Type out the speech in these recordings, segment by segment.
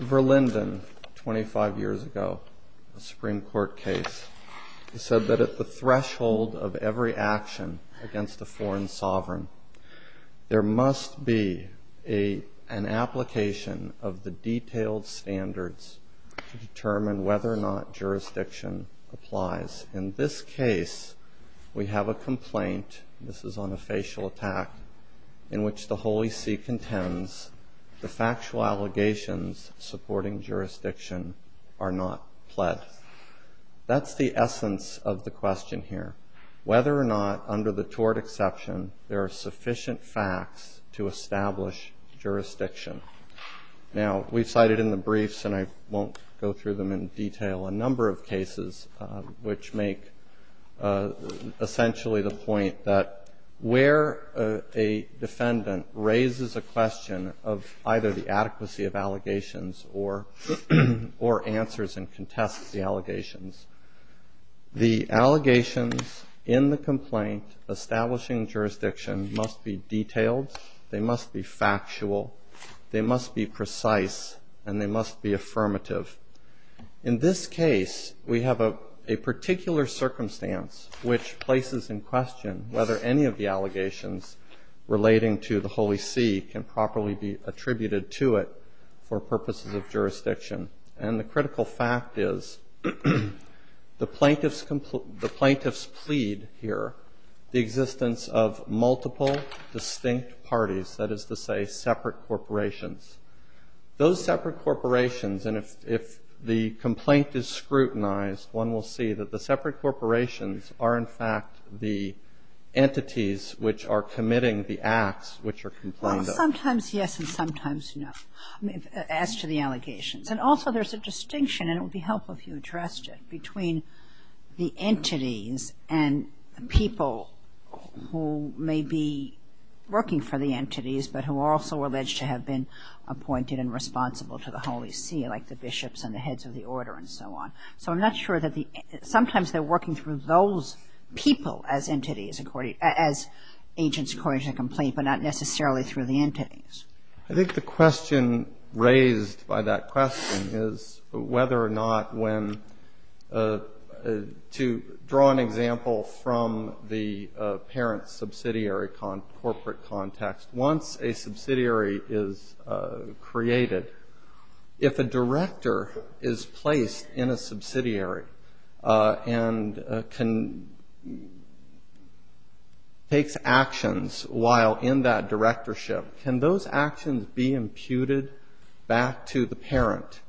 Verlinden, 25 years ago, a Supreme Court case, said that at the threshold of every action against a foreign sovereign, there must be an application of the detailed standards to determine whether or not jurisdiction applies. In this case, we have a complaint, this is on a facial attack, in which the Holy See contends the factual allegations supporting jurisdiction are not pled. That's the essence of the question here, whether or not, under the tort exception, there are sufficient facts to establish jurisdiction. Now, we've cited in the briefs, and I won't go through them in detail, a number of cases which make essentially the point that where a defendant raises a question of either the adequacy of allegations or answers and contests the allegations, the allegations in the complaint establishing jurisdiction must be detailed, they must be factual, they must be precise, and they must be affirmative. In this case, we have a particular circumstance which places in question whether any of the allegations relating to the Holy See can properly be attributed to it for purposes of jurisdiction. And the critical fact is, the plaintiffs plead here the existence of multiple distinct parties, that is to say, separate corporations. Those separate corporations, and if the complaint is scrutinized, one will see that the separate corporations are, in fact, the entities which are committing the acts which are complained of. Well, sometimes yes and sometimes no, as to the allegations. And also, there's a distinction, and it would be helpful if you addressed it, between the entities and the people who may be working for the entities but who are also alleged to have been appointed and responsible to the Holy See, like the bishops and the heads of the order and so on. So I'm not sure that the, sometimes they're working through those people as entities, as agents according to the complaint, but not necessarily through the entities. I think the question raised by that question is whether or not when, to draw an example from the parent subsidiary corporate context, once a subsidiary is created, if a director is placed in a subsidiary and can, takes actions while in that directorship, can those actions be imputed back to the parent?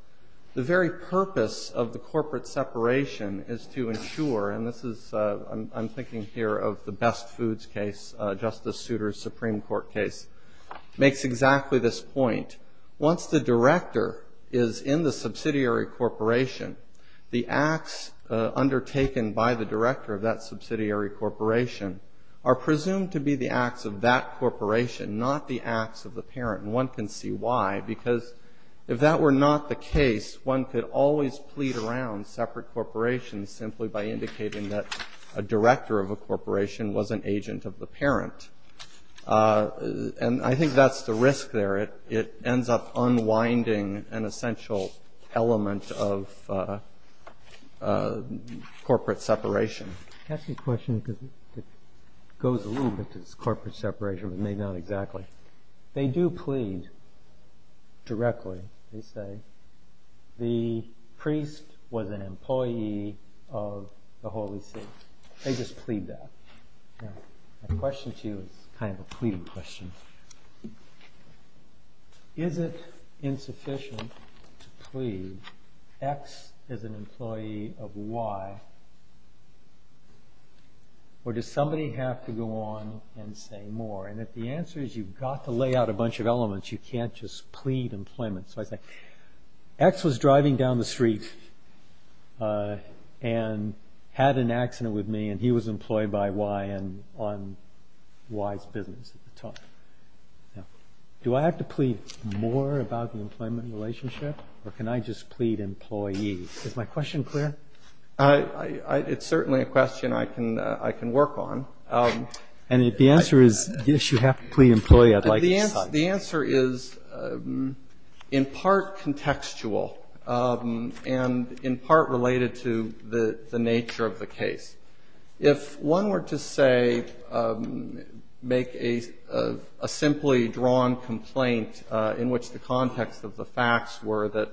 The very purpose of the corporate separation is to ensure, and this is, I'm thinking here of the Best Foods case, Justice Souter's Supreme Court case, makes exactly this point. Once the director is in the subsidiary corporation, the acts undertaken by the director of that subsidiary corporation are presumed to be the acts of that corporation, not the acts of the parent. And one can see why, because if that were not the case, one could always plead around separate corporations simply by indicating that a director of a And I think that's the risk there. It ends up unwinding an essential element of corporate separation. Can I ask you a question because it goes a little bit to this corporate separation, but maybe not exactly. They do plead directly. They say, the priest was an employee of the Holy See. They just plead that. My question to you is kind of a pleading question. Is it insufficient to plead, X is an employee of Y, or does somebody have to go on and say more? And if the answer is you've got to lay out a bunch of elements, you can't just plead employment. So I say, X was driving down the street and had an accident with me, and he was employed by Y on Y's business at the time. Do I have to plead more about the employment relationship, or can I just plead employee? Is my question clear? It's certainly a question I can work on. And if the answer is, yes, you have to plead employee, I'd like to decide. The answer is in part contextual and in part related to the nature of the case. If one were to, say, make a simply drawn complaint in which the context of the facts were that,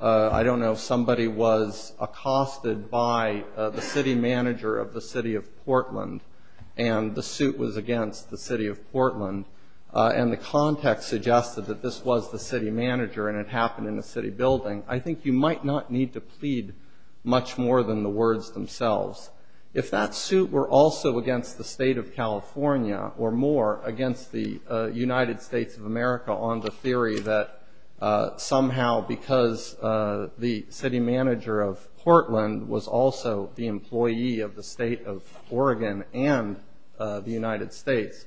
I don't know, somebody was accosted by the city manager of the city of Portland, and the suit was against the city of Portland, and the context suggested that this was the city manager and it happened in the city building, I think you might not need to plead much more than the words themselves. If that suit were also against the state of California, or more, against the United States of America on the theory that somehow, because the city manager of Portland was also the employee of the state of Oregon and the United States,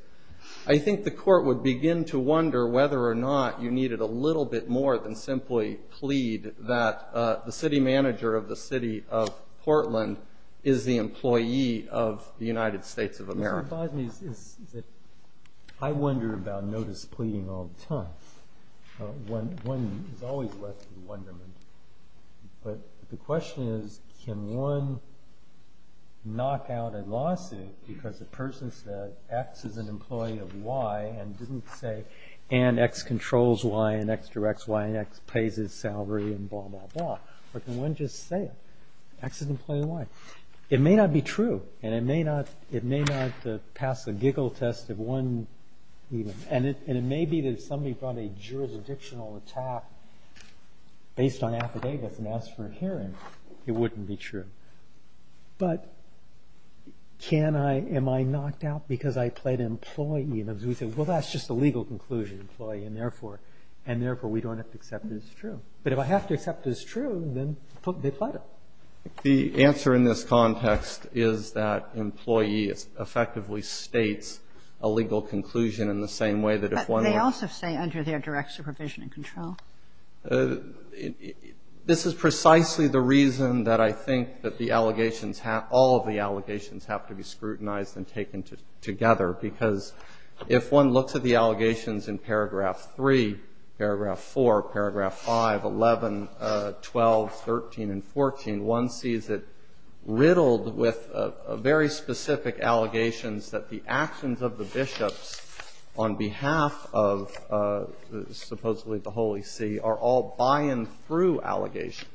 I think the court would begin to wonder whether or not you needed a little bit more than simply plead that the city manager of the city of Portland is the employee of the United States of America. It bothers me that I wonder about notice pleading all the time. One is always left in wonderment. But the question is, can one knock out a lawsuit because the person said, X is an employee of Y, and didn't say, and X controls Y, and X directs Y, and X pays his salary, and blah, blah, blah. Or can one just say, X is an employee of Y? It may not be true, and it may not pass the giggle test of one. And it may be that if somebody brought a jurisdictional attack based on affidavits and asked for a hearing, it wouldn't be true. But can I, am I knocked out because I plead employee? And if we say, well, that's just a legal conclusion, employee, and therefore we don't have to accept it as true. But if I have to accept it as true, then they plead it. The answer in this context is that employee effectively states a legal conclusion in the same way that if one were- But they also say under their direct supervision and control. This is precisely the reason that I think that the allegations have, all of the allegations have to be scrutinized and taken together. Because if one looks at the allegations in paragraph 3, paragraph 4, paragraph 5, 11, 12, 13, and 14, one sees it riddled with very specific allegations that the actions of the bishops on behalf of supposedly the Holy See are all by and through allegations.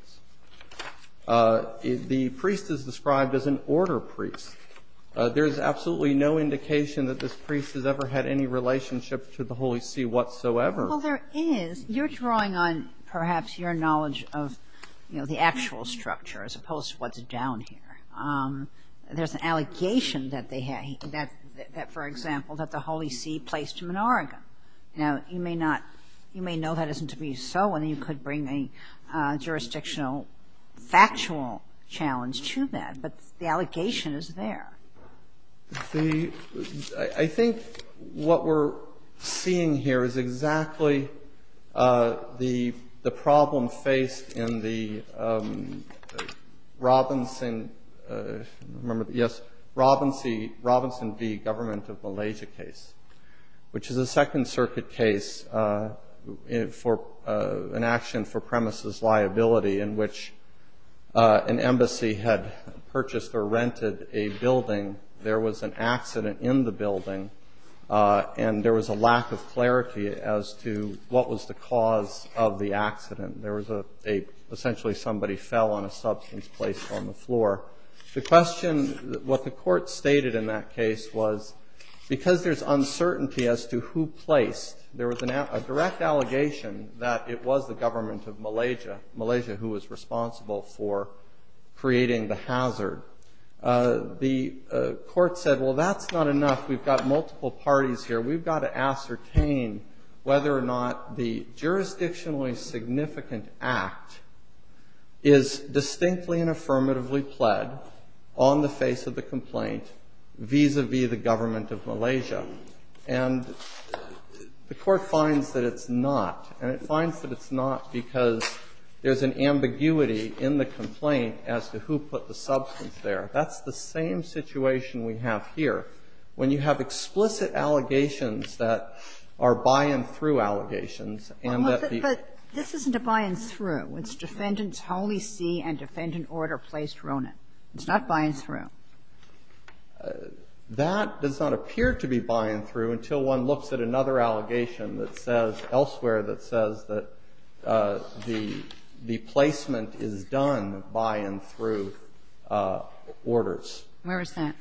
The priest is described as an order priest. There is absolutely no indication that this priest has ever had any relationship to the Holy See whatsoever. Well, there is. You're drawing on perhaps your knowledge of, you know, the actual structure as opposed to what's down here. There's an allegation that they had, that, for example, that the Holy See placed him in Oregon. Now, you may not, you may know that isn't to be so, and you could bring a jurisdictional factual challenge to that, but the allegation is there. The, I think what we're seeing here is exactly the problem faced in the Robinson, remember, yes, Robinson v. Government of Malaysia case, which is a Second Circuit case for an action for premises liability in which an embassy had purchased or rented a building. There was an accident in the building, and there was a lack of clarity as to what was the cause of the accident. There was a, essentially somebody fell on a substance placed on the floor. The question, what the court stated in that case was, because there's uncertainty as to who placed, there was a direct allegation that it was the Government of Malaysia, Malaysia who was responsible for creating the hazard. The court said, well, that's not enough. We've got multiple parties here. We've got to ascertain whether or not the jurisdictionally significant act is distinctly and affirmatively pled on the face of the complaint vis-a-vis the Government of Malaysia. And the court finds that it's not, and it finds that it's not because there's an ambiguity in the complaint as to who put the substance there. That's the same situation we have here. When you have explicit allegations that are by-and-through allegations and that the But this isn't a by-and-through. It's Defendant's Holy See and Defendant Order placed Ronan. It's not by-and-through. That does not appear to be by-and-through until one looks at another allegation that says elsewhere that says that the placement is done by-and-through orders. Where is that?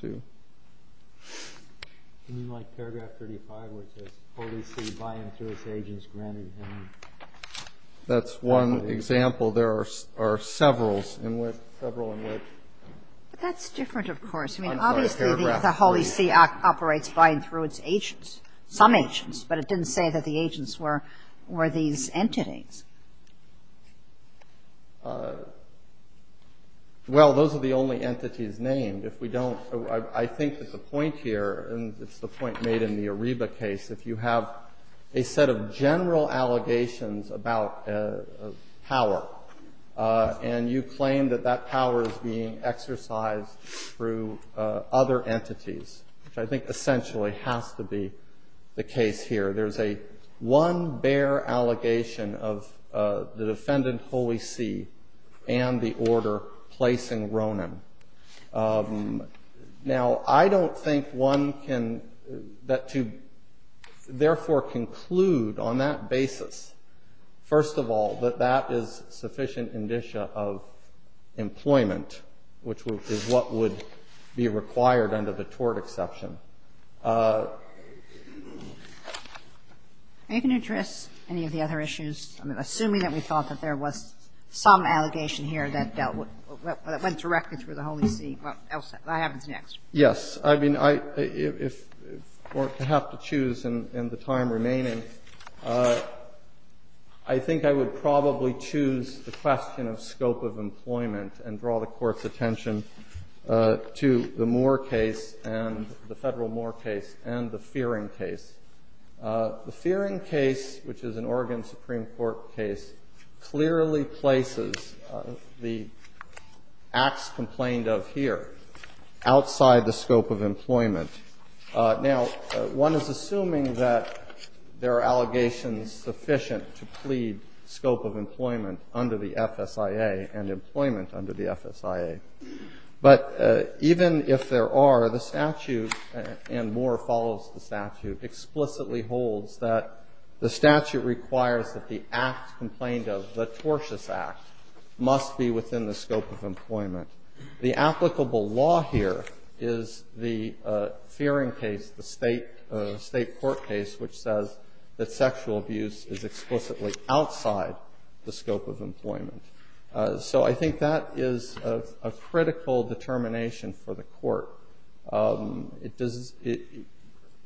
Do you mean like paragraph 35, which says, Holy See, by-and-through, this agent's granted him? That's one example. There are several in which. But that's different, of course. I mean, obviously, the Holy See operates by-and-through its agents, some agents. But it didn't say that the agents were these entities. Well, those are the only entities named. If we don't, I think that the point here, and it's the point made in the Ariba case, if you have a set of general allegations about power, and you claim that that power is being exercised through other entities, which I think essentially has to be the case here, there's a one bare allegation of the Defendant Holy See and the order placing Ronan. Now I don't think one can, to therefore conclude on that basis, first of all, that that is which is what would be required under the tort exception. Are you going to address any of the other issues? I mean, assuming that we thought that there was some allegation here that dealt with what went directly through the Holy See, what else happens next? Yes. I mean, if we're to have to choose in the time remaining, I think I would probably choose the question of scope of employment and draw the Court's attention to the Moore case and the Federal Moore case and the Fearing case. The Fearing case, which is an Oregon Supreme Court case, clearly places the acts complained Now, one is assuming that there are allegations sufficient to plead scope of employment under the FSIA and employment under the FSIA. But even if there are, the statute, and Moore follows the statute, explicitly holds that the statute requires that the act complained of, the tortious act, must be within the scope of employment. The applicable law here is the Fearing case, the state court case, which says that sexual abuse is explicitly outside the scope of employment. So I think that is a critical determination for the Court.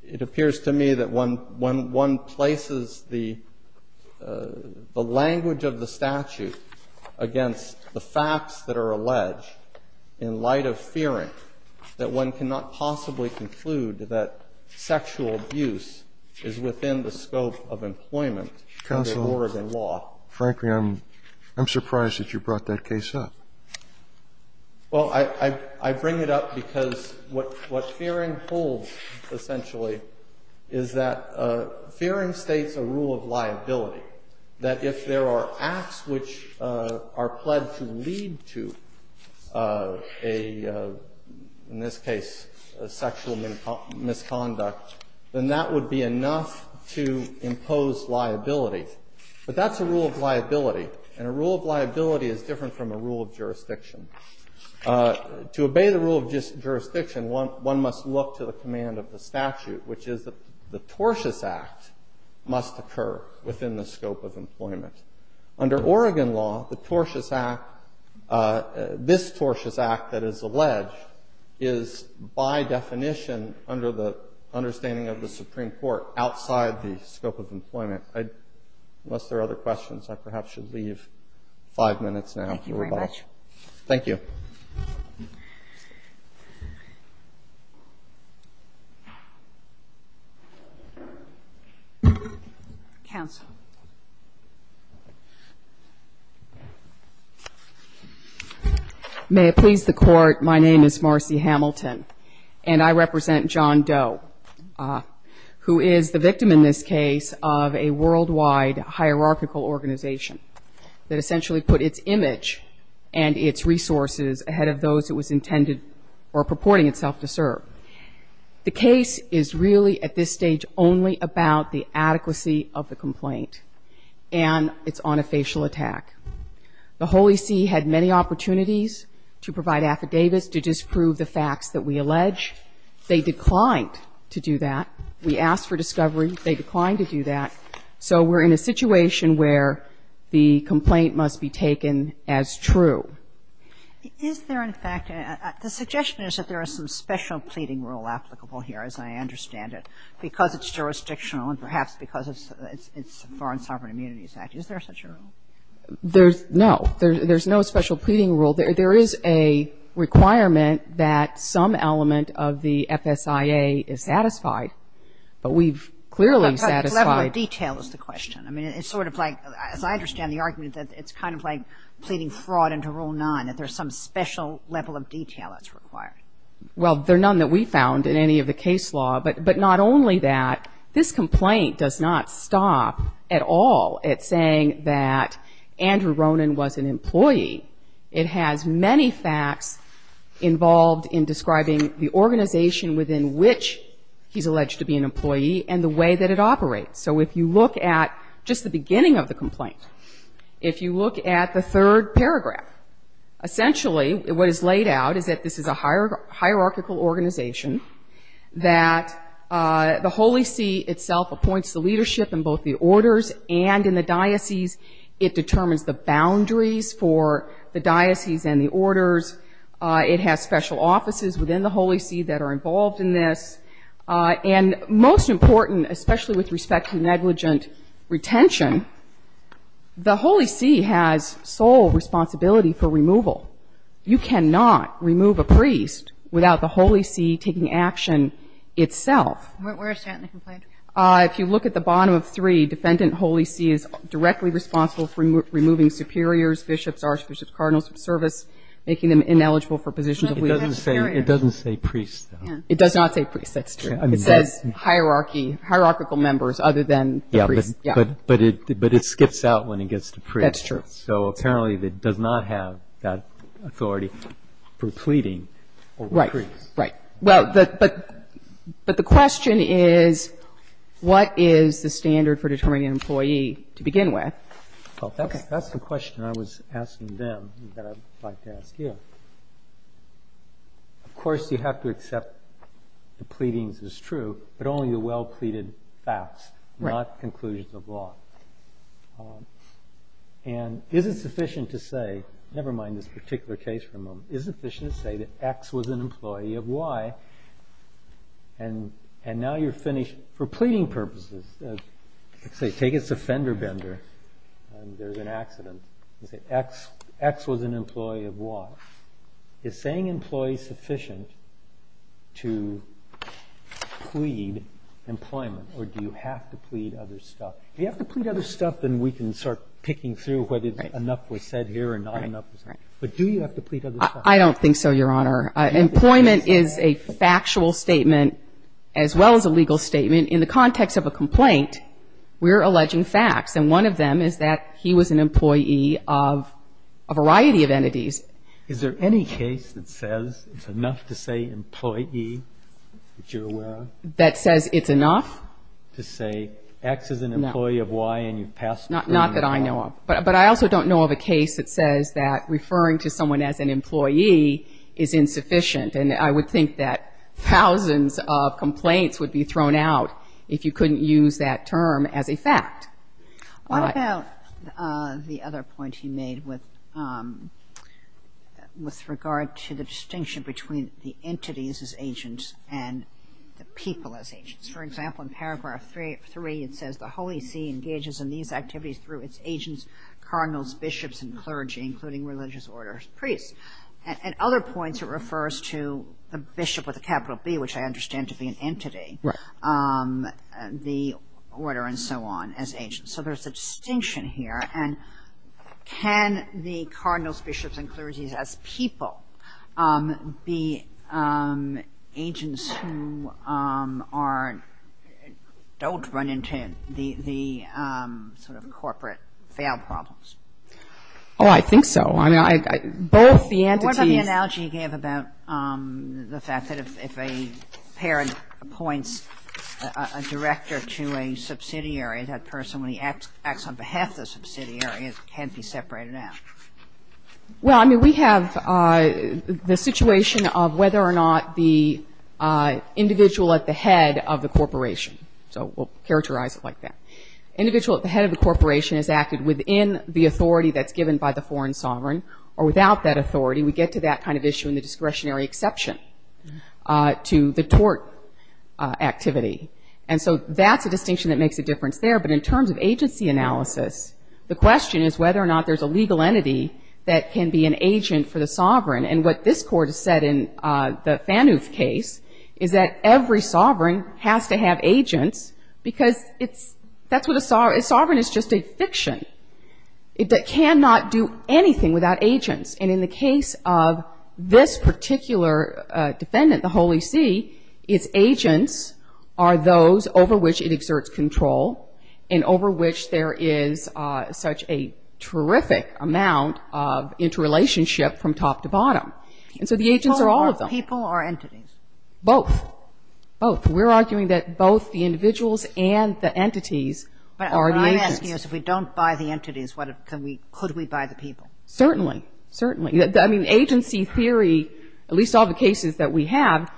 It appears to me that when one places the language of the statute against the facts that are alleged in light of Fearing, that one cannot possibly conclude that sexual abuse is within the scope of employment under Oregon law. Counsel, frankly, I'm surprised that you brought that case up. Well, I bring it up because what Fearing holds, essentially, is that Fearing states a rule of liability, that if there are acts which are pledged to lead to a, in this case, a sexual misconduct, then that would be enough to impose liability. But that's a rule of liability. And a rule of liability is different from a rule of jurisdiction. To obey the rule of jurisdiction, one must look to the command of the statute, which is that the tortious act must occur within the scope of employment. Under Oregon law, the tortious act, this tortious act that is alleged, is by definition, under the understanding of the Supreme Court, outside the scope of employment. Unless there are other questions, I perhaps should leave five minutes now. Thank you very much. Thank you. Counsel. May it please the Court, my name is Marcy Hamilton, and I represent John Doe, who is the victim in this case of a worldwide hierarchical organization that essentially put its image and its resources ahead of those it was intended or purporting itself to serve. The case is really at this stage only about the adequacy of the complaint, and it's on a facial attack. The Holy See had many opportunities to provide affidavits to disprove the facts that we allege. They declined to do that. We asked for discovery. They declined to do that. So we're in a situation where the complaint must be taken as true. Is there, in fact, the suggestion is that there are some special pleading rule applicable here, as I understand it, because it's jurisdictional and perhaps because it's Foreign Sovereign Immunities Act. Is there such a rule? There's no. There's no special pleading rule. There is a requirement that some element of the FSIA is satisfied, but we've clearly satisfied. Level of detail is the question. I mean, it's sort of like, as I understand the argument, that it's kind of like none, that there's some special level of detail that's required. Well, there are none that we found in any of the case law, but not only that, this complaint does not stop at all at saying that Andrew Ronan was an employee. It has many facts involved in describing the organization within which he's alleged to be an employee and the way that it operates. So if you look at just the beginning of the complaint, if you look at the third paragraph, essentially what is laid out is that this is a hierarchical organization, that the Holy See itself appoints the leadership in both the orders and in the diocese. It determines the boundaries for the diocese and the orders. It has special offices within the Holy See that are involved in this. And most important, especially with respect to negligent retention, the Holy See has a responsibility for removal. You cannot remove a priest without the Holy See taking action itself. Where is that in the complaint? If you look at the bottom of three, Defendant Holy See is directly responsible for removing superiors, bishops, archbishops, cardinals of service, making them ineligible for positions of leadership. It doesn't say priest, though. It does not say priest, that's true. It says hierarchy, hierarchical members other than the priest. Yeah, but it skips out when it gets to priest. That's true. So apparently it does not have that authority for pleading over priests. Right, right. Well, but the question is, what is the standard for determining an employee to begin with? That's the question I was asking them that I'd like to ask you. Of course, you have to accept the pleadings as true, but only the well-pleaded facts, not conclusions of law. And is it sufficient to say, never mind this particular case for a moment, is it sufficient to say that X was an employee of Y, and now you're finished for pleading purposes. Let's say, take us to Fender Bender, and there's an accident. You say, X was an employee of Y. Is saying employee sufficient to plead employment, or do you have to plead other stuff? You have to plead other stuff, then we can start picking through whether enough was said here or not enough was said. But do you have to plead other stuff? I don't think so, Your Honor. Employment is a factual statement as well as a legal statement. In the context of a complaint, we're alleging facts. And one of them is that he was an employee of a variety of entities. Is there any case that says it's enough to say employee that you're aware of? That says it's enough? To say, X is an employee of Y, and you've passed. Not that I know of. But I also don't know of a case that says that referring to someone as an employee is insufficient. And I would think that thousands of complaints would be thrown out if you couldn't use that term as a fact. What about the other point he made with regard to the distinction between the entities as agents and the people as agents? For example, in paragraph 3, it says, the Holy See engages in these activities through its agents, cardinals, bishops, and clergy, including religious orders, priests. At other points, it refers to the bishop with a capital B, which I understand to be an entity, the order, and so on, as agents. So there's a distinction here. And can the cardinals, bishops, and clergy as people be agents who don't run into the sort of corporate failed problems? Oh, I think so. I mean, both the entities- What about the analogy he gave about the fact that if a parent appoints a can't be separated out? Well, I mean, we have the situation of whether or not the individual at the head of the corporation, so we'll characterize it like that, individual at the head of the corporation has acted within the authority that's given by the foreign sovereign or without that authority. We get to that kind of issue in the discretionary exception to the tort activity. And so that's a distinction that makes a difference there. But in terms of agency analysis, the question is whether or not there's a legal entity that can be an agent for the sovereign. And what this Court has said in the Fanuf case is that every sovereign has to have agents because it's- that's what a sovereign- a sovereign is just a fiction. It cannot do anything without agents. And in the case of this particular defendant, the Holy See, its agents are those over which it exerts control and over which there is such a terrific amount of interrelationship from top to bottom. And so the agents are all of them. People or entities? Both. Both. We're arguing that both the individuals and the entities are the agents. But what I'm asking is if we don't buy the entities, could we buy the people? Certainly. Certainly. I mean, agency theory, at least all the cases that we have,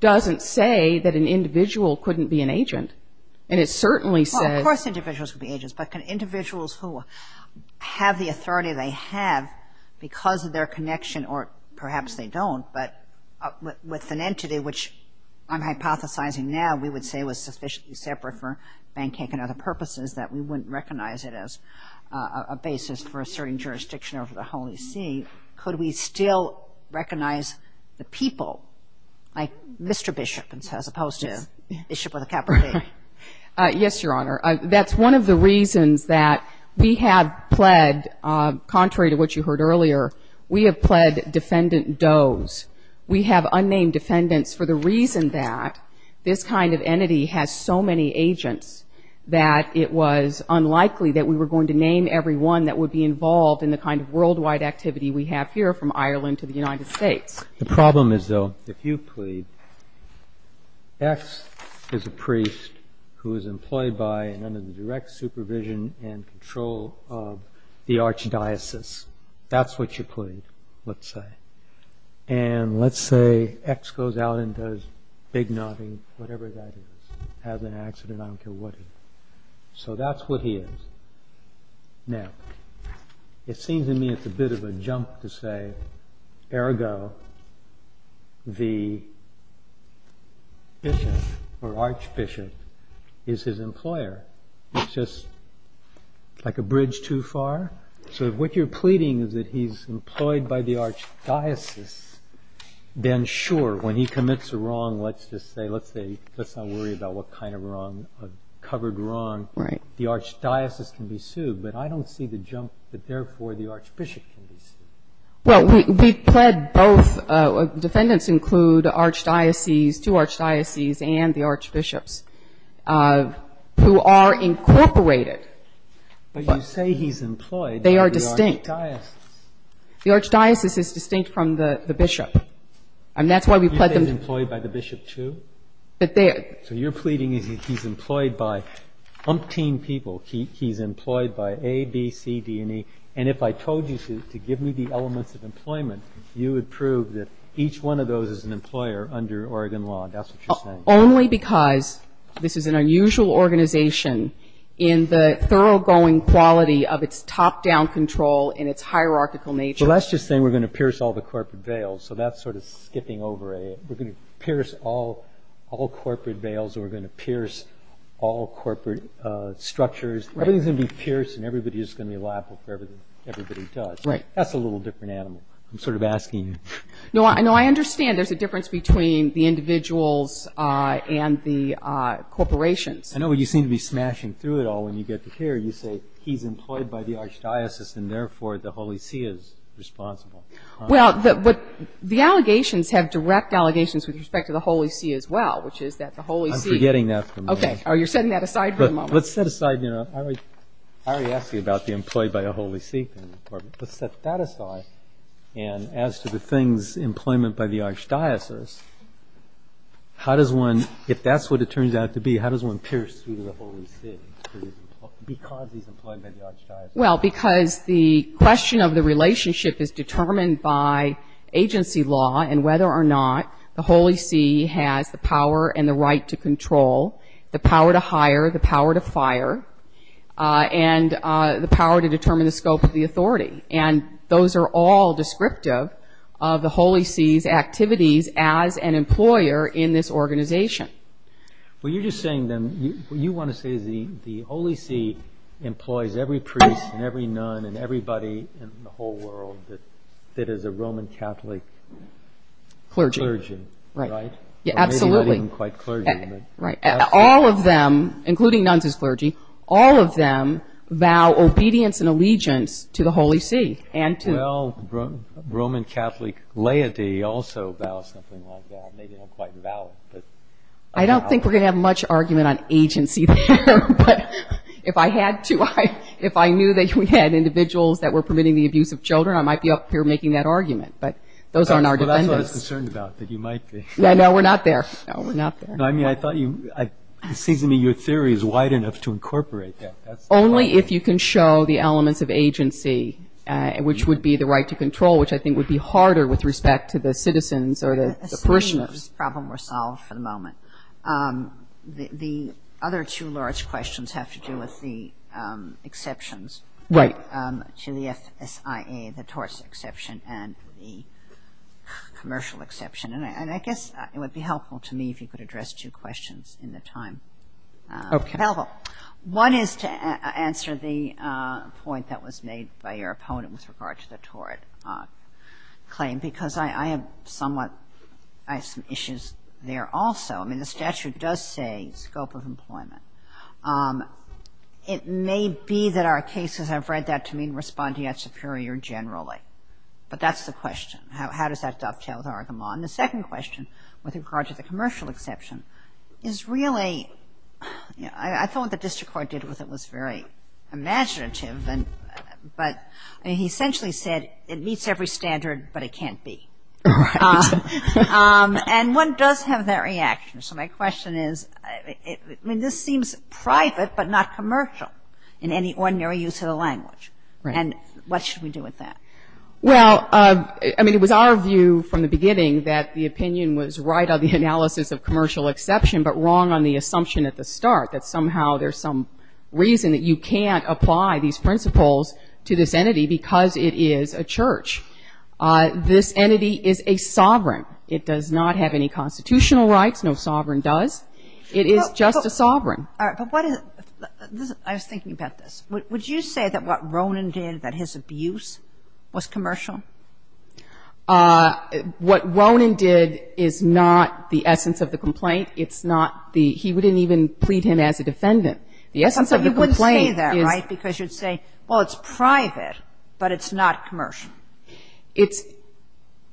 doesn't say that an individual can be an agent. And it certainly says- Well, of course individuals can be agents. But can individuals who have the authority they have because of their connection, or perhaps they don't, but with an entity which I'm hypothesizing now we would say was sufficiently separate for pancake and other purposes that we wouldn't recognize it as a basis for asserting jurisdiction over the Holy See, could we still recognize the people, like Mr. Bishop as opposed to Bishop of the Capricorn? Yes, Your Honor. That's one of the reasons that we have pled, contrary to what you heard earlier, we have pled defendant does. We have unnamed defendants for the reason that this kind of entity has so many agents that it was unlikely that we were going to name everyone that would be involved in the kind of worldwide activity we have here from Ireland to the United States. The problem is, though, if you plead, X is a priest who is employed by and under the direct supervision and control of the archdiocese. That's what you plead, let's say. And let's say X goes out and does big nodding, whatever that is, has an accident, I don't care what it is. So that's what he is. Now, it seems to me it's a bit of a jump to say, ergo, the bishop or archbishop is his employer. It's just like a bridge too far. So if what you're pleading is that he's employed by the archdiocese, then sure, when he commits a wrong, let's just say, let's not worry about what kind of wrong, a covered wrong. The archdiocese can be sued. But I don't see the jump that, therefore, the archbishop can be sued. Well, we've pled both. Defendants include two archdioceses and the archbishops, who are incorporated. But you say he's employed by the archdiocese. They are distinct. The archdiocese is distinct from the bishop. And that's why we pled them. You think he's employed by the bishop too? But they are. So you're pleading he's employed by umpteen people. He's employed by A, B, C, D, and E. And if I told you to give me the elements of employment, you would prove that each one of those is an employer under Oregon law. And that's what you're saying. Only because this is an unusual organization in the thoroughgoing quality of its top-down control and its hierarchical nature. So that's just saying we're going to pierce all the corporate veils. So that's sort of skipping over. We're going to pierce all corporate veils. We're going to pierce all corporate structures. Everything's going to be pierced. And everybody is going to be liable for everything everybody does. Right. That's a little different animal. I'm sort of asking you. No, I understand there's a difference between the individuals and the corporations. I know you seem to be smashing through it all when you get to here. You say he's employed by the archdiocese. And therefore, the Holy See is responsible. Well, the allegations have direct allegations with respect to the Holy See as well, which is that the Holy See- I'm forgetting that for a moment. OK. You're setting that aside for a moment. Let's set aside. I already asked you about the employed by the Holy See thing. Let's set that aside. And as to the things employment by the archdiocese, if that's what it turns out to be, how does one pierce through the Holy See because he's employed by the archdiocese? Well, because the question of the relationship is determined by agency law and whether or not the Holy See has the power and the right to control, the power to hire, the power to fire, and the power to determine the scope of the authority. And those are all descriptive of the Holy See's activities as an employer in this organization. Well, you're just saying then, what you want to say is the Holy See employs every priest and every nun and everybody in the whole world that is a Roman Catholic- Clergy. Clergy, right? Yeah, absolutely. Or maybe not even quite clergy, but- Right. All of them, including nuns as clergy, all of them vow obedience and allegiance to the Holy See. And to- Well, Roman Catholic laity also vows something like that. Maybe not quite valid, but- I don't think we're going to have much argument on agency there. But if I had to, if I knew that we had individuals that were permitting the abuse of children, I might be up here making that argument. But those aren't our defenders. That's what I was concerned about, that you might be. Yeah, no, we're not there. No, we're not there. No, I mean, I thought you, it seems to me your theory is wide enough to incorporate that. Only if you can show the elements of agency, which would be the right to control, which I think would be harder with respect to the citizens or the parishioners. The problem we're solving for the moment. The other two large questions have to do with the exceptions. Right. To the FSIA, the torts exception, and the commercial exception. And I guess it would be helpful to me if you could address two questions in the time available. Okay. One is to answer the point that was made by your opponent with regard to the tort claim. Because I have somewhat, I have some issues there also. I mean, the statute does say scope of employment. It may be that our cases, I've read that to mean respondeat superior generally. But that's the question. How does that dovetail with our argument? The second question, with regard to the commercial exception, is really, I thought what the district court did with it was very imaginative. But he essentially said it meets every standard, but it can't be. And one does have that reaction. So my question is, I mean, this seems private, but not commercial in any ordinary use of the language. And what should we do with that? Well, I mean, it was our view from the beginning that the opinion was right on the analysis of commercial exception, but wrong on the assumption at the start that somehow there's some reason that you can't apply these principles to this entity because it is a church. This entity is a sovereign. It does not have any constitutional rights. No sovereign does. It is just a sovereign. All right. But what is, I was thinking about this. Would you say that what Ronan did, that his abuse was commercial? What Ronan did is not the essence of the complaint. It's not the, he didn't even plead him as a defendant. The essence of the complaint is... But you wouldn't say that, right? Because you'd say, well, it's private, but it's not commercial. It's,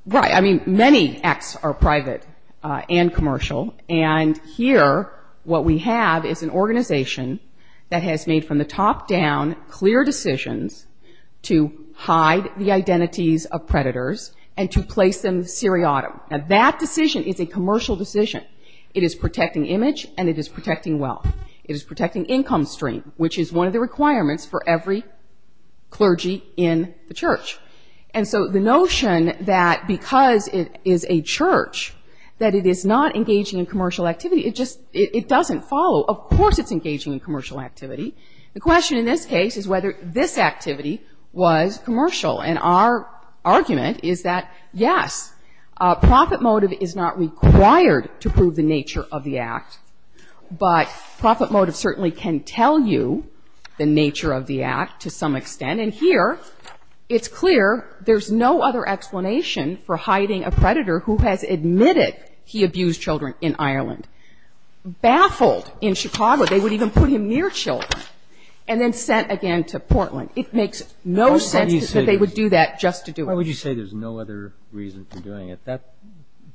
right. I mean, many acts are private and commercial. And here what we have is an organization that has made from the top down clear decisions to hide the identities of predators and to place them seriatim. Now, that decision is a commercial decision. It is protecting image and it is protecting wealth. It is protecting income stream, which is one of the requirements for every clergy in the church. And so the notion that because it is a church, that it is not engaging in commercial activity, it just, it doesn't follow. Of course, it's engaging in commercial activity. The question in this case is whether this activity was commercial. And our argument is that, yes, profit motive is not required to prove the nature of the act, but profit motive certainly can tell you the nature of the act to some extent. And here it's clear there's no other explanation for hiding a predator who has admitted he abused children in Ireland, baffled in Chicago. They would even put him near children and then sent again to Portland. It makes no sense that they would do that just to do it. Why would you say there's no other reason for doing it?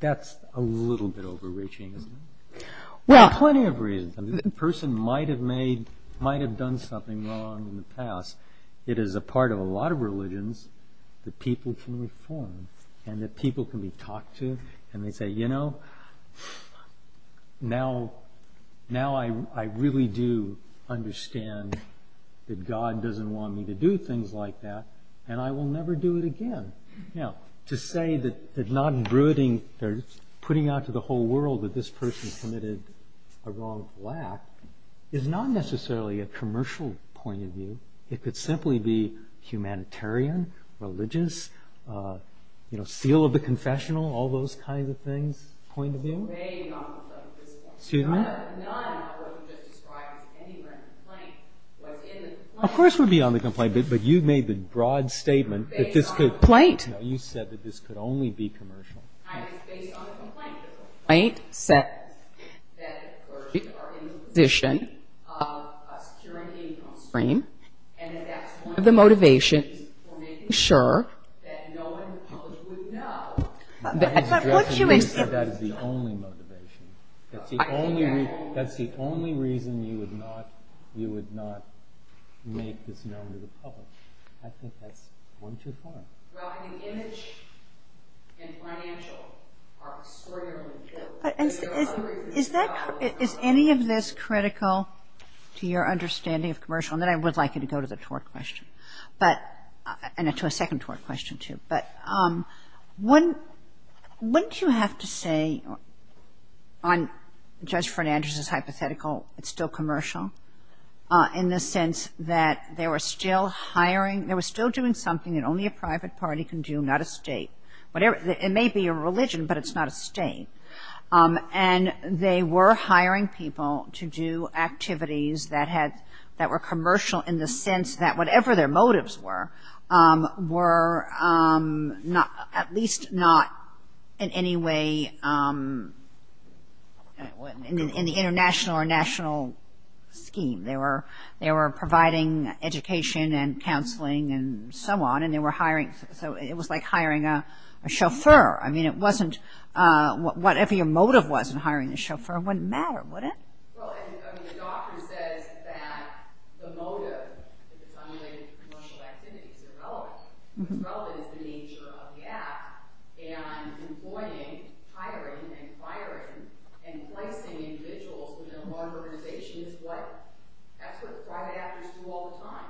That's a little bit overreaching, isn't it? Well, plenty of reasons. The person might have made, might have done something wrong in the past. It is a part of a lot of religions that people can reform and that people can be talked to. And they say, you know, now I really do understand that God doesn't want me to do things like that. And I will never do it again. Now, to say that not brooding or putting out to the whole world that this person committed a wrong black is not necessarily a commercial point of view. It could simply be humanitarian, religious, seal of the confessional, all those kinds of things, point of view. Of course we'd be on the complaint, but you've made the broad statement that this could- No, you said that this could only be commercial. I was based on the complaint. The complaint says that the clergy are in the position of us curating on screen, and that that's one of the motivations for making sure that no one in the public would know- I was addressing you when you said that is the only motivation. That's the only reason you would not make this known to the public. I think that's one too far. Well, I think image and financial are extraordinarily important. But is that- is any of this critical to your understanding of commercial? And then I would like you to go to the twerk question. But- and to a second twerk question too. But wouldn't you have to say on Judge Fernandez's hypothetical it's still commercial in the sense that they were still hiring- they were still doing something that only a private party can do, not a state. Whatever- it may be a religion, but it's not a state. And they were hiring people to do activities that had- that were commercial in the sense that whatever their motives were, were not- at least not in any way in the international or national scheme. They were providing education and counseling and so on. And they were hiring- so it was like hiring a chauffeur. I mean, it wasn't- whatever your motive was in hiring the chauffeur wouldn't matter, would it? Well, I mean, the doctrine says that the motive, if it's unrelated to commercial activities, is irrelevant. What's relevant is the nature of the act and employing, hiring, and acquiring, and placing individuals within a large organization is what- that's what private actors do all the time.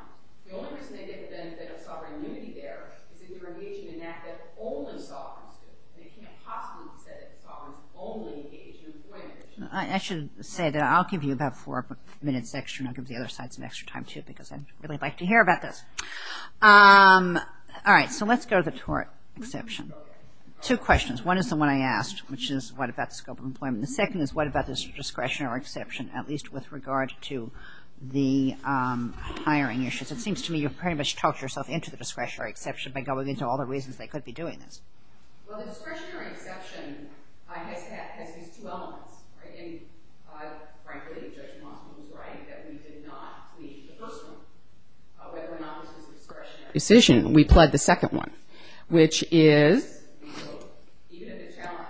The only reason they get the benefit of sovereign immunity there is if they're engaging in an act that only sovereigns do. And it can't possibly be said that sovereigns only engage in employment. I should say that I'll give you about four minutes extra and I'll give the other side some extra time too because I'd really like to hear about this. All right, so let's go to the twerk exception. Two questions. One is the one I asked, which is what about the scope of employment. The second is what about the discretionary exception, at least with regard to the hiring issues. It seems to me you've pretty much talked yourself into the discretionary exception by going into all the reasons they could be doing this. Well, the discretionary exception has these two elements, right? And frankly, Judge Mossman was right that we did not plead the first one, whether or not this was a discretionary decision. We pled the second one, which is even if the challenge,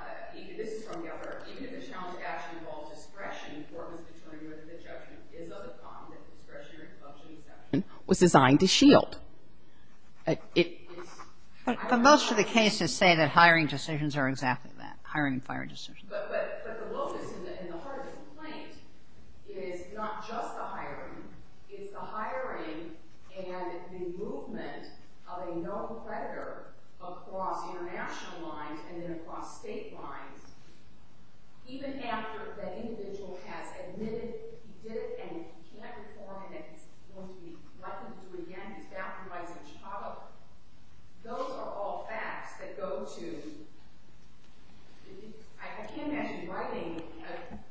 this is from the other, even if the challenge of action involves discretion, the court was determined whether the judgment is of the con that the discretionary exception was designed to shield. But most of the cases say that hiring decisions are exactly that, hiring and firing decisions. But the locus and the heart of the complaint is not just the hiring, it's the movement of a known creditor across international lines and then across state lines, even after the individual has admitted he did it and he can't reform it and it's going to be welcomed to do again, he's bound to rise in Chicago. Those are all facts that go to, I can't imagine writing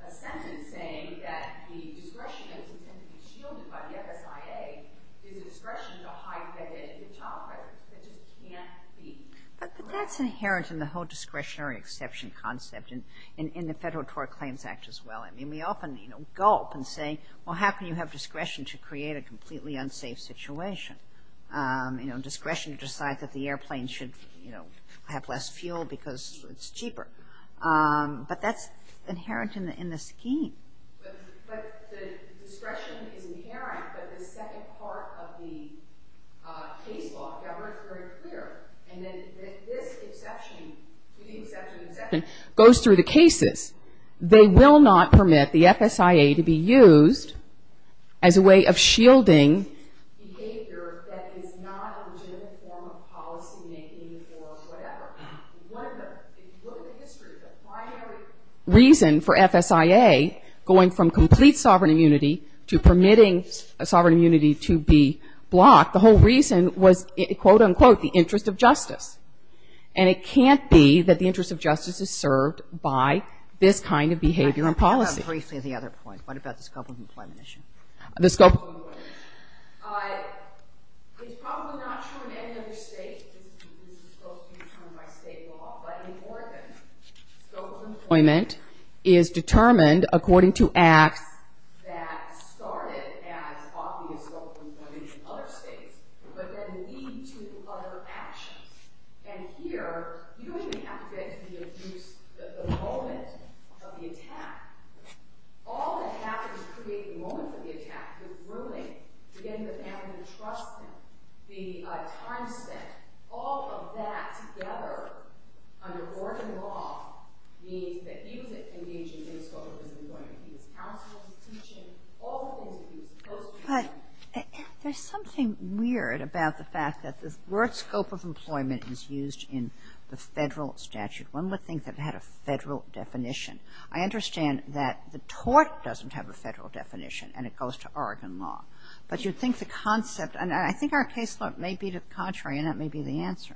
a sentence saying that the discretion that was intended to be shielded by the FSIA is discretion to hide the identity of the child, right? That just can't be. But that's inherent in the whole discretionary exception concept and in the Federal Tort Claims Act as well. I mean, we often gulp and say, well, how can you have discretion to create a completely unsafe situation? You know, discretion to decide that the airplane should have less fuel because it's cheaper. But that's inherent in the scheme. But the discretion is inherent, but the second part of the case law, it's very clear. And then this exception, the exception goes through the cases. They will not permit the FSIA to be used as a way of shielding behavior that is not a legitimate form of policy making or whatever. One of the, if you look at the history, the primary reason for FSIA going from complete sovereign immunity to permitting sovereign immunity to be blocked, the whole reason was, quote, unquote, the interest of justice. And it can't be that the interest of justice is served by this kind of behavior and policy. Briefly, the other point. What about the scope of employment issue? The scope. It's probably not true in any other state. This is supposed to be determined by state law. But in Oregon, scope of employment is determined according to acts that started as obvious scope of employment in other states, but then lead to other actions. And here, you don't even have to get into the abuse, the moment of the attack. All that happens to create the moment of the attack, the ruling, to get the family to trust him, the time spent. All of that together, under Oregon law, means that he was engaging in the scope of his employment. He was counseling, he was teaching, all the things that he was supposed to be doing. But there's something weird about the fact that the word scope of employment is used in the federal statute. One would think that it had a federal definition. I understand that the tort doesn't have a federal definition, and it goes to Oregon law. But you'd think the concept, and I think our caseload may be the contrary, and that may be the answer.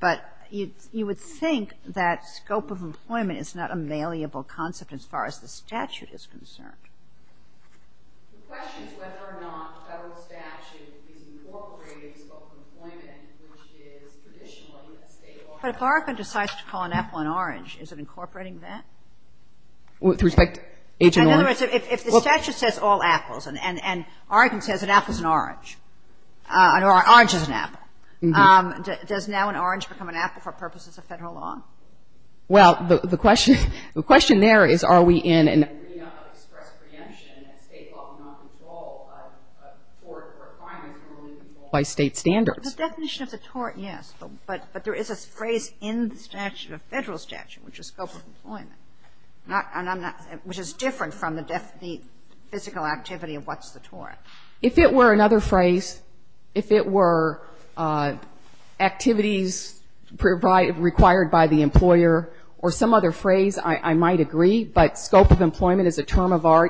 But you would think that scope of employment is not a malleable concept as far as the statute is concerned. The question is whether or not federal statute is incorporating the scope of employment, which is traditionally a state law. But if Oregon decides to call an apple an orange, is it incorporating that? With respect to Agent Orange? In other words, if the statute says all apples, and Oregon says an apple is an orange, or an orange is an apple, does now an orange become an apple for purposes of federal law? Well, the question there is are we in an agreement of express preemption, and state law does not control a tort or a crime that can only be controlled by state standards. The definition of the tort, yes. But there is a phrase in the statute, the federal statute, which is scope of employment is a term of art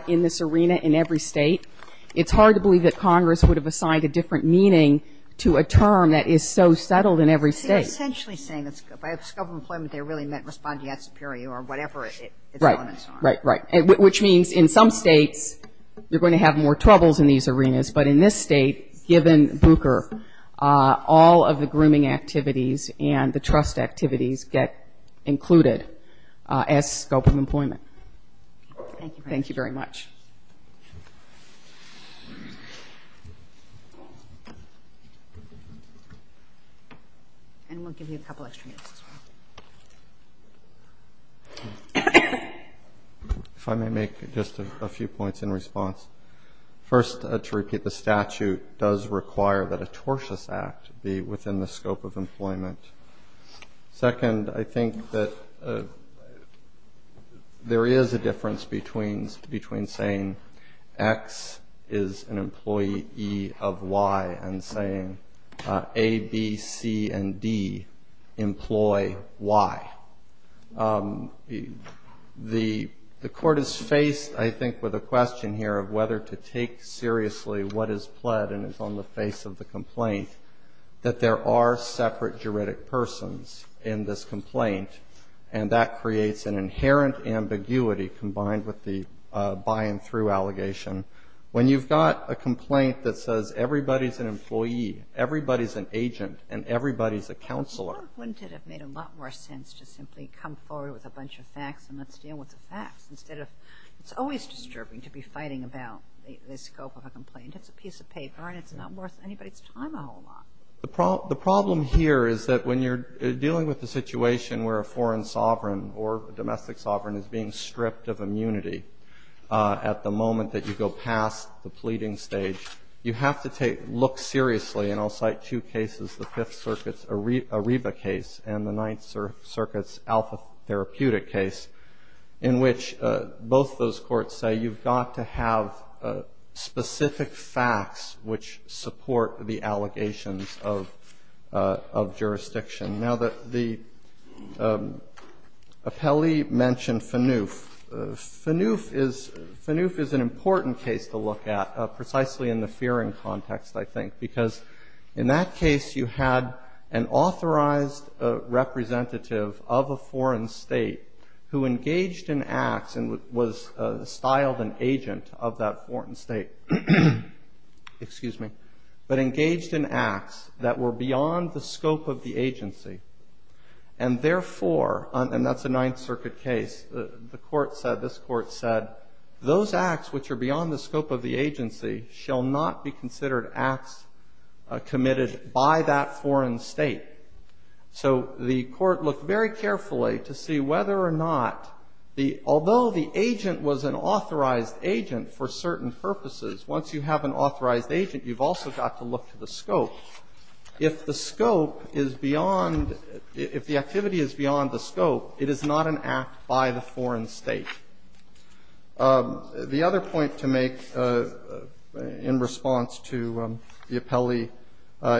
in this arena in every state. It's hard to believe that Congress would have assigned a different meaning to a term that is so settled in every state. They're essentially saying that scope of employment there really meant respondeat superior or whatever its elements are. In some states, you're going to have more troubles in these arenas. But in this state, given Booker, all of the grooming activities and the trust activities get included as scope of employment. Thank you very much. And we'll give you a couple extra minutes as well. If I may make just a few points in response. First, to repeat, the statute does require that a tortious act be within the scope of employment. Second, I think that there is a difference between saying X is an employee E of Y and saying A, B, C, and D employ Y. The court is faced, I think, with a question here of whether to take seriously what is pled and is on the face of the complaint that there are separate juridic persons in this complaint. And that creates an inherent ambiguity combined with the by and through allegation. When you've got a complaint that says everybody's an employee, everybody's an agent, and everybody's a counselor. Wouldn't it have made a lot more sense to simply come forward with a bunch of facts and let's deal with the facts instead of it's always disturbing to be fighting about the scope of a complaint. It's a piece of paper and it's not worth anybody's time a whole lot. The problem here is that when you're dealing with the situation where a foreign sovereign or domestic sovereign is being stripped of immunity at the moment that you go past the pleading stage, you have to look seriously. And I'll cite two cases, the Fifth Circuit's Ariba case and the Ninth Circuit's Alpha Therapeutic case, in which both those courts say you've got to have specific facts which support the allegations of jurisdiction. Now, the appellee mentioned Fanouf. Fanouf is an important case to look at, precisely in the fearing context, I think, because in that case you had an authorized representative of a foreign state who engaged in acts and was styled an agent of that foreign state, but engaged in acts that were beyond the scope of the agency. And therefore, and that's a Ninth Circuit case, the court said, this court said, those acts which are beyond the scope of the agency shall not be considered acts committed by that foreign state. So the court looked very carefully to see whether or not the, although the agent was an authorized agent for certain purposes, once you have an authorized agent, you've also got to look to the scope. If the scope is beyond, if the activity is beyond the scope, it is not an act by the foreign state. The other point to make in response to the appellee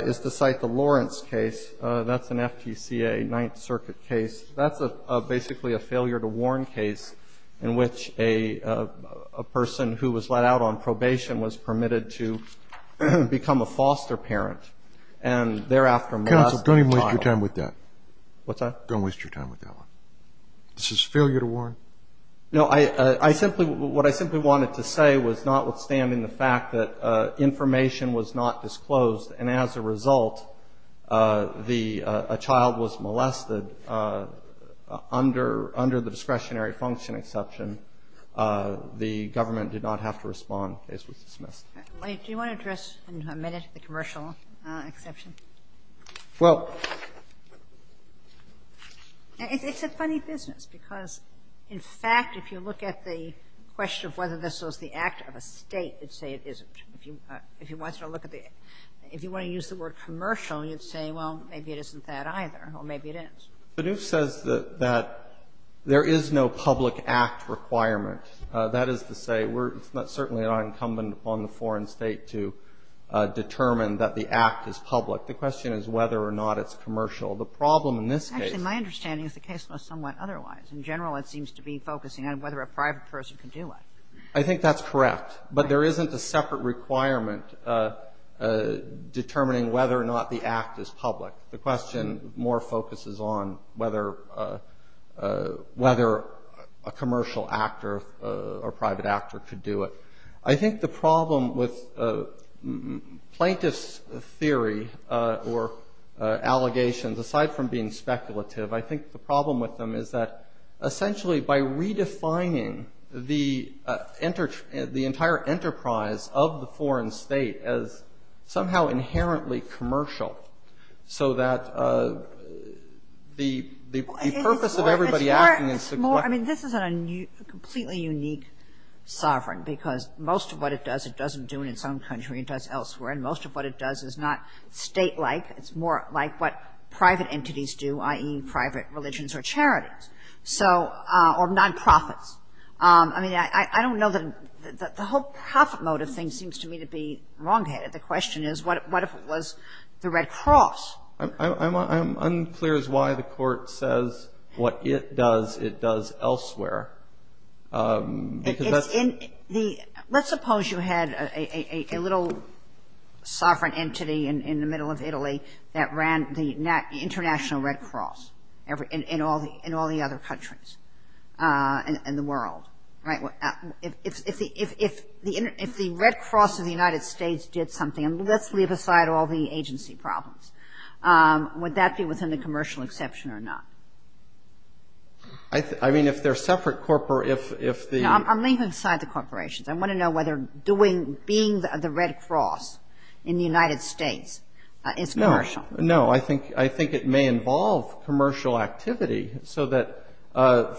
is to cite the Lawrence case. That's an FTCA, Ninth Circuit case. That's basically a failure to warn case in which a person who was let out on probation was permitted to become a foster parent, and thereafter molested a child. Counsel, don't even waste your time with that. What's that? Don't waste your time with that one. This is a failure to warn? No, I simply, what I simply wanted to say was notwithstanding the fact that information was not disclosed, and as a result, the, a child was molested under the discretionary function exception, the government did not have to respond. The case was dismissed. Do you want to address in a minute the commercial exception? Well, it's a funny business because, in fact, if you look at the question of whether this was the act of a state, it'd say it isn't. If you wanted to look at the, if you want to use the word commercial, you'd say, well, maybe it isn't that either, or maybe it is. Bidoof says that there is no public act requirement. That is to say, we're, it's certainly not incumbent upon the foreign state to determine that the act is public. The question is whether or not it's commercial. The problem in this case. Actually, my understanding is the case was somewhat otherwise. In general, it seems to be focusing on whether a private person can do it. I think that's correct. But there isn't a separate requirement determining whether or not the act is public. The question more focuses on whether a commercial actor or private actor could do it. I think the problem with plaintiff's theory or allegations, aside from being speculative, I think the problem with them is that essentially by redefining the entire enterprise of the foreign state as somehow inherently commercial. So that the purpose of everybody asking is to collect. I mean, this is a completely unique sovereign because most of what it does, it doesn't do in its own country. It does elsewhere. And most of what it does is not state-like. It's more like what private entities do, i.e., private religions or charities. So, or nonprofits. I mean, I don't know that the whole profit motive thing seems to me to be wrongheaded. The question is, what if it was the Red Cross? I'm unclear as to why the Court says what it does, it does elsewhere. Because that's... It's in the... Let's suppose you had a little sovereign entity in the middle of Italy that ran the international Red Cross in all the other countries in the world. Right? If the Red Cross of the United States did something, and let's leave aside all the agency problems, would that be within the commercial exception or not? I mean, if they're separate... No, I'm leaving aside the corporations. I want to know whether being the Red Cross in the United States is commercial. No, I think it may involve commercial activity so that,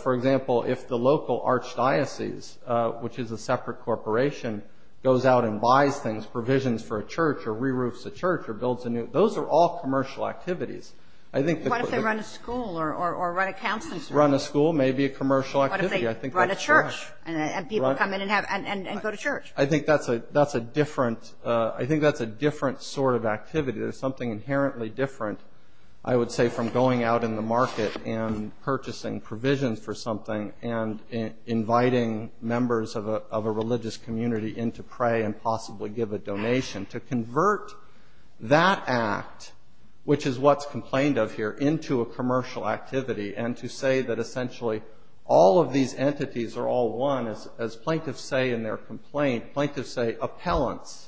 for example, if the local archdiocese, which is a separate corporation, goes out and buys things, provisions for a church, or re-roofs a church, or builds a new... Those are all commercial activities. I think... What if they run a school or run a counseling center? Run a school, maybe a commercial activity. What if they run a church and people come in and go to church? I think that's a different sort of activity. There's something inherently different, I would say, from going out in the market and purchasing provisions for something and inviting members of a religious community in to pray and possibly give a donation. To convert that act, which is what's complained of here, into a commercial activity and to say that, essentially, all of these entities are all one, as plaintiffs say in their complaint, plaintiffs say, appellants.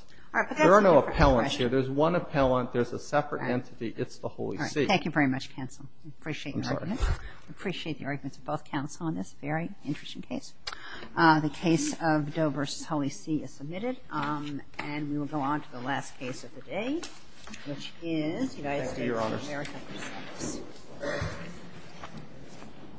There are no appellants here. There's one appellant. There's a separate entity. It's the Holy See. Thank you very much, Cancel. I appreciate the arguments of both counsel on this very interesting case. The case of Doe v. Holy See is submitted, and we will go on to the last case of the day, which is United States of America.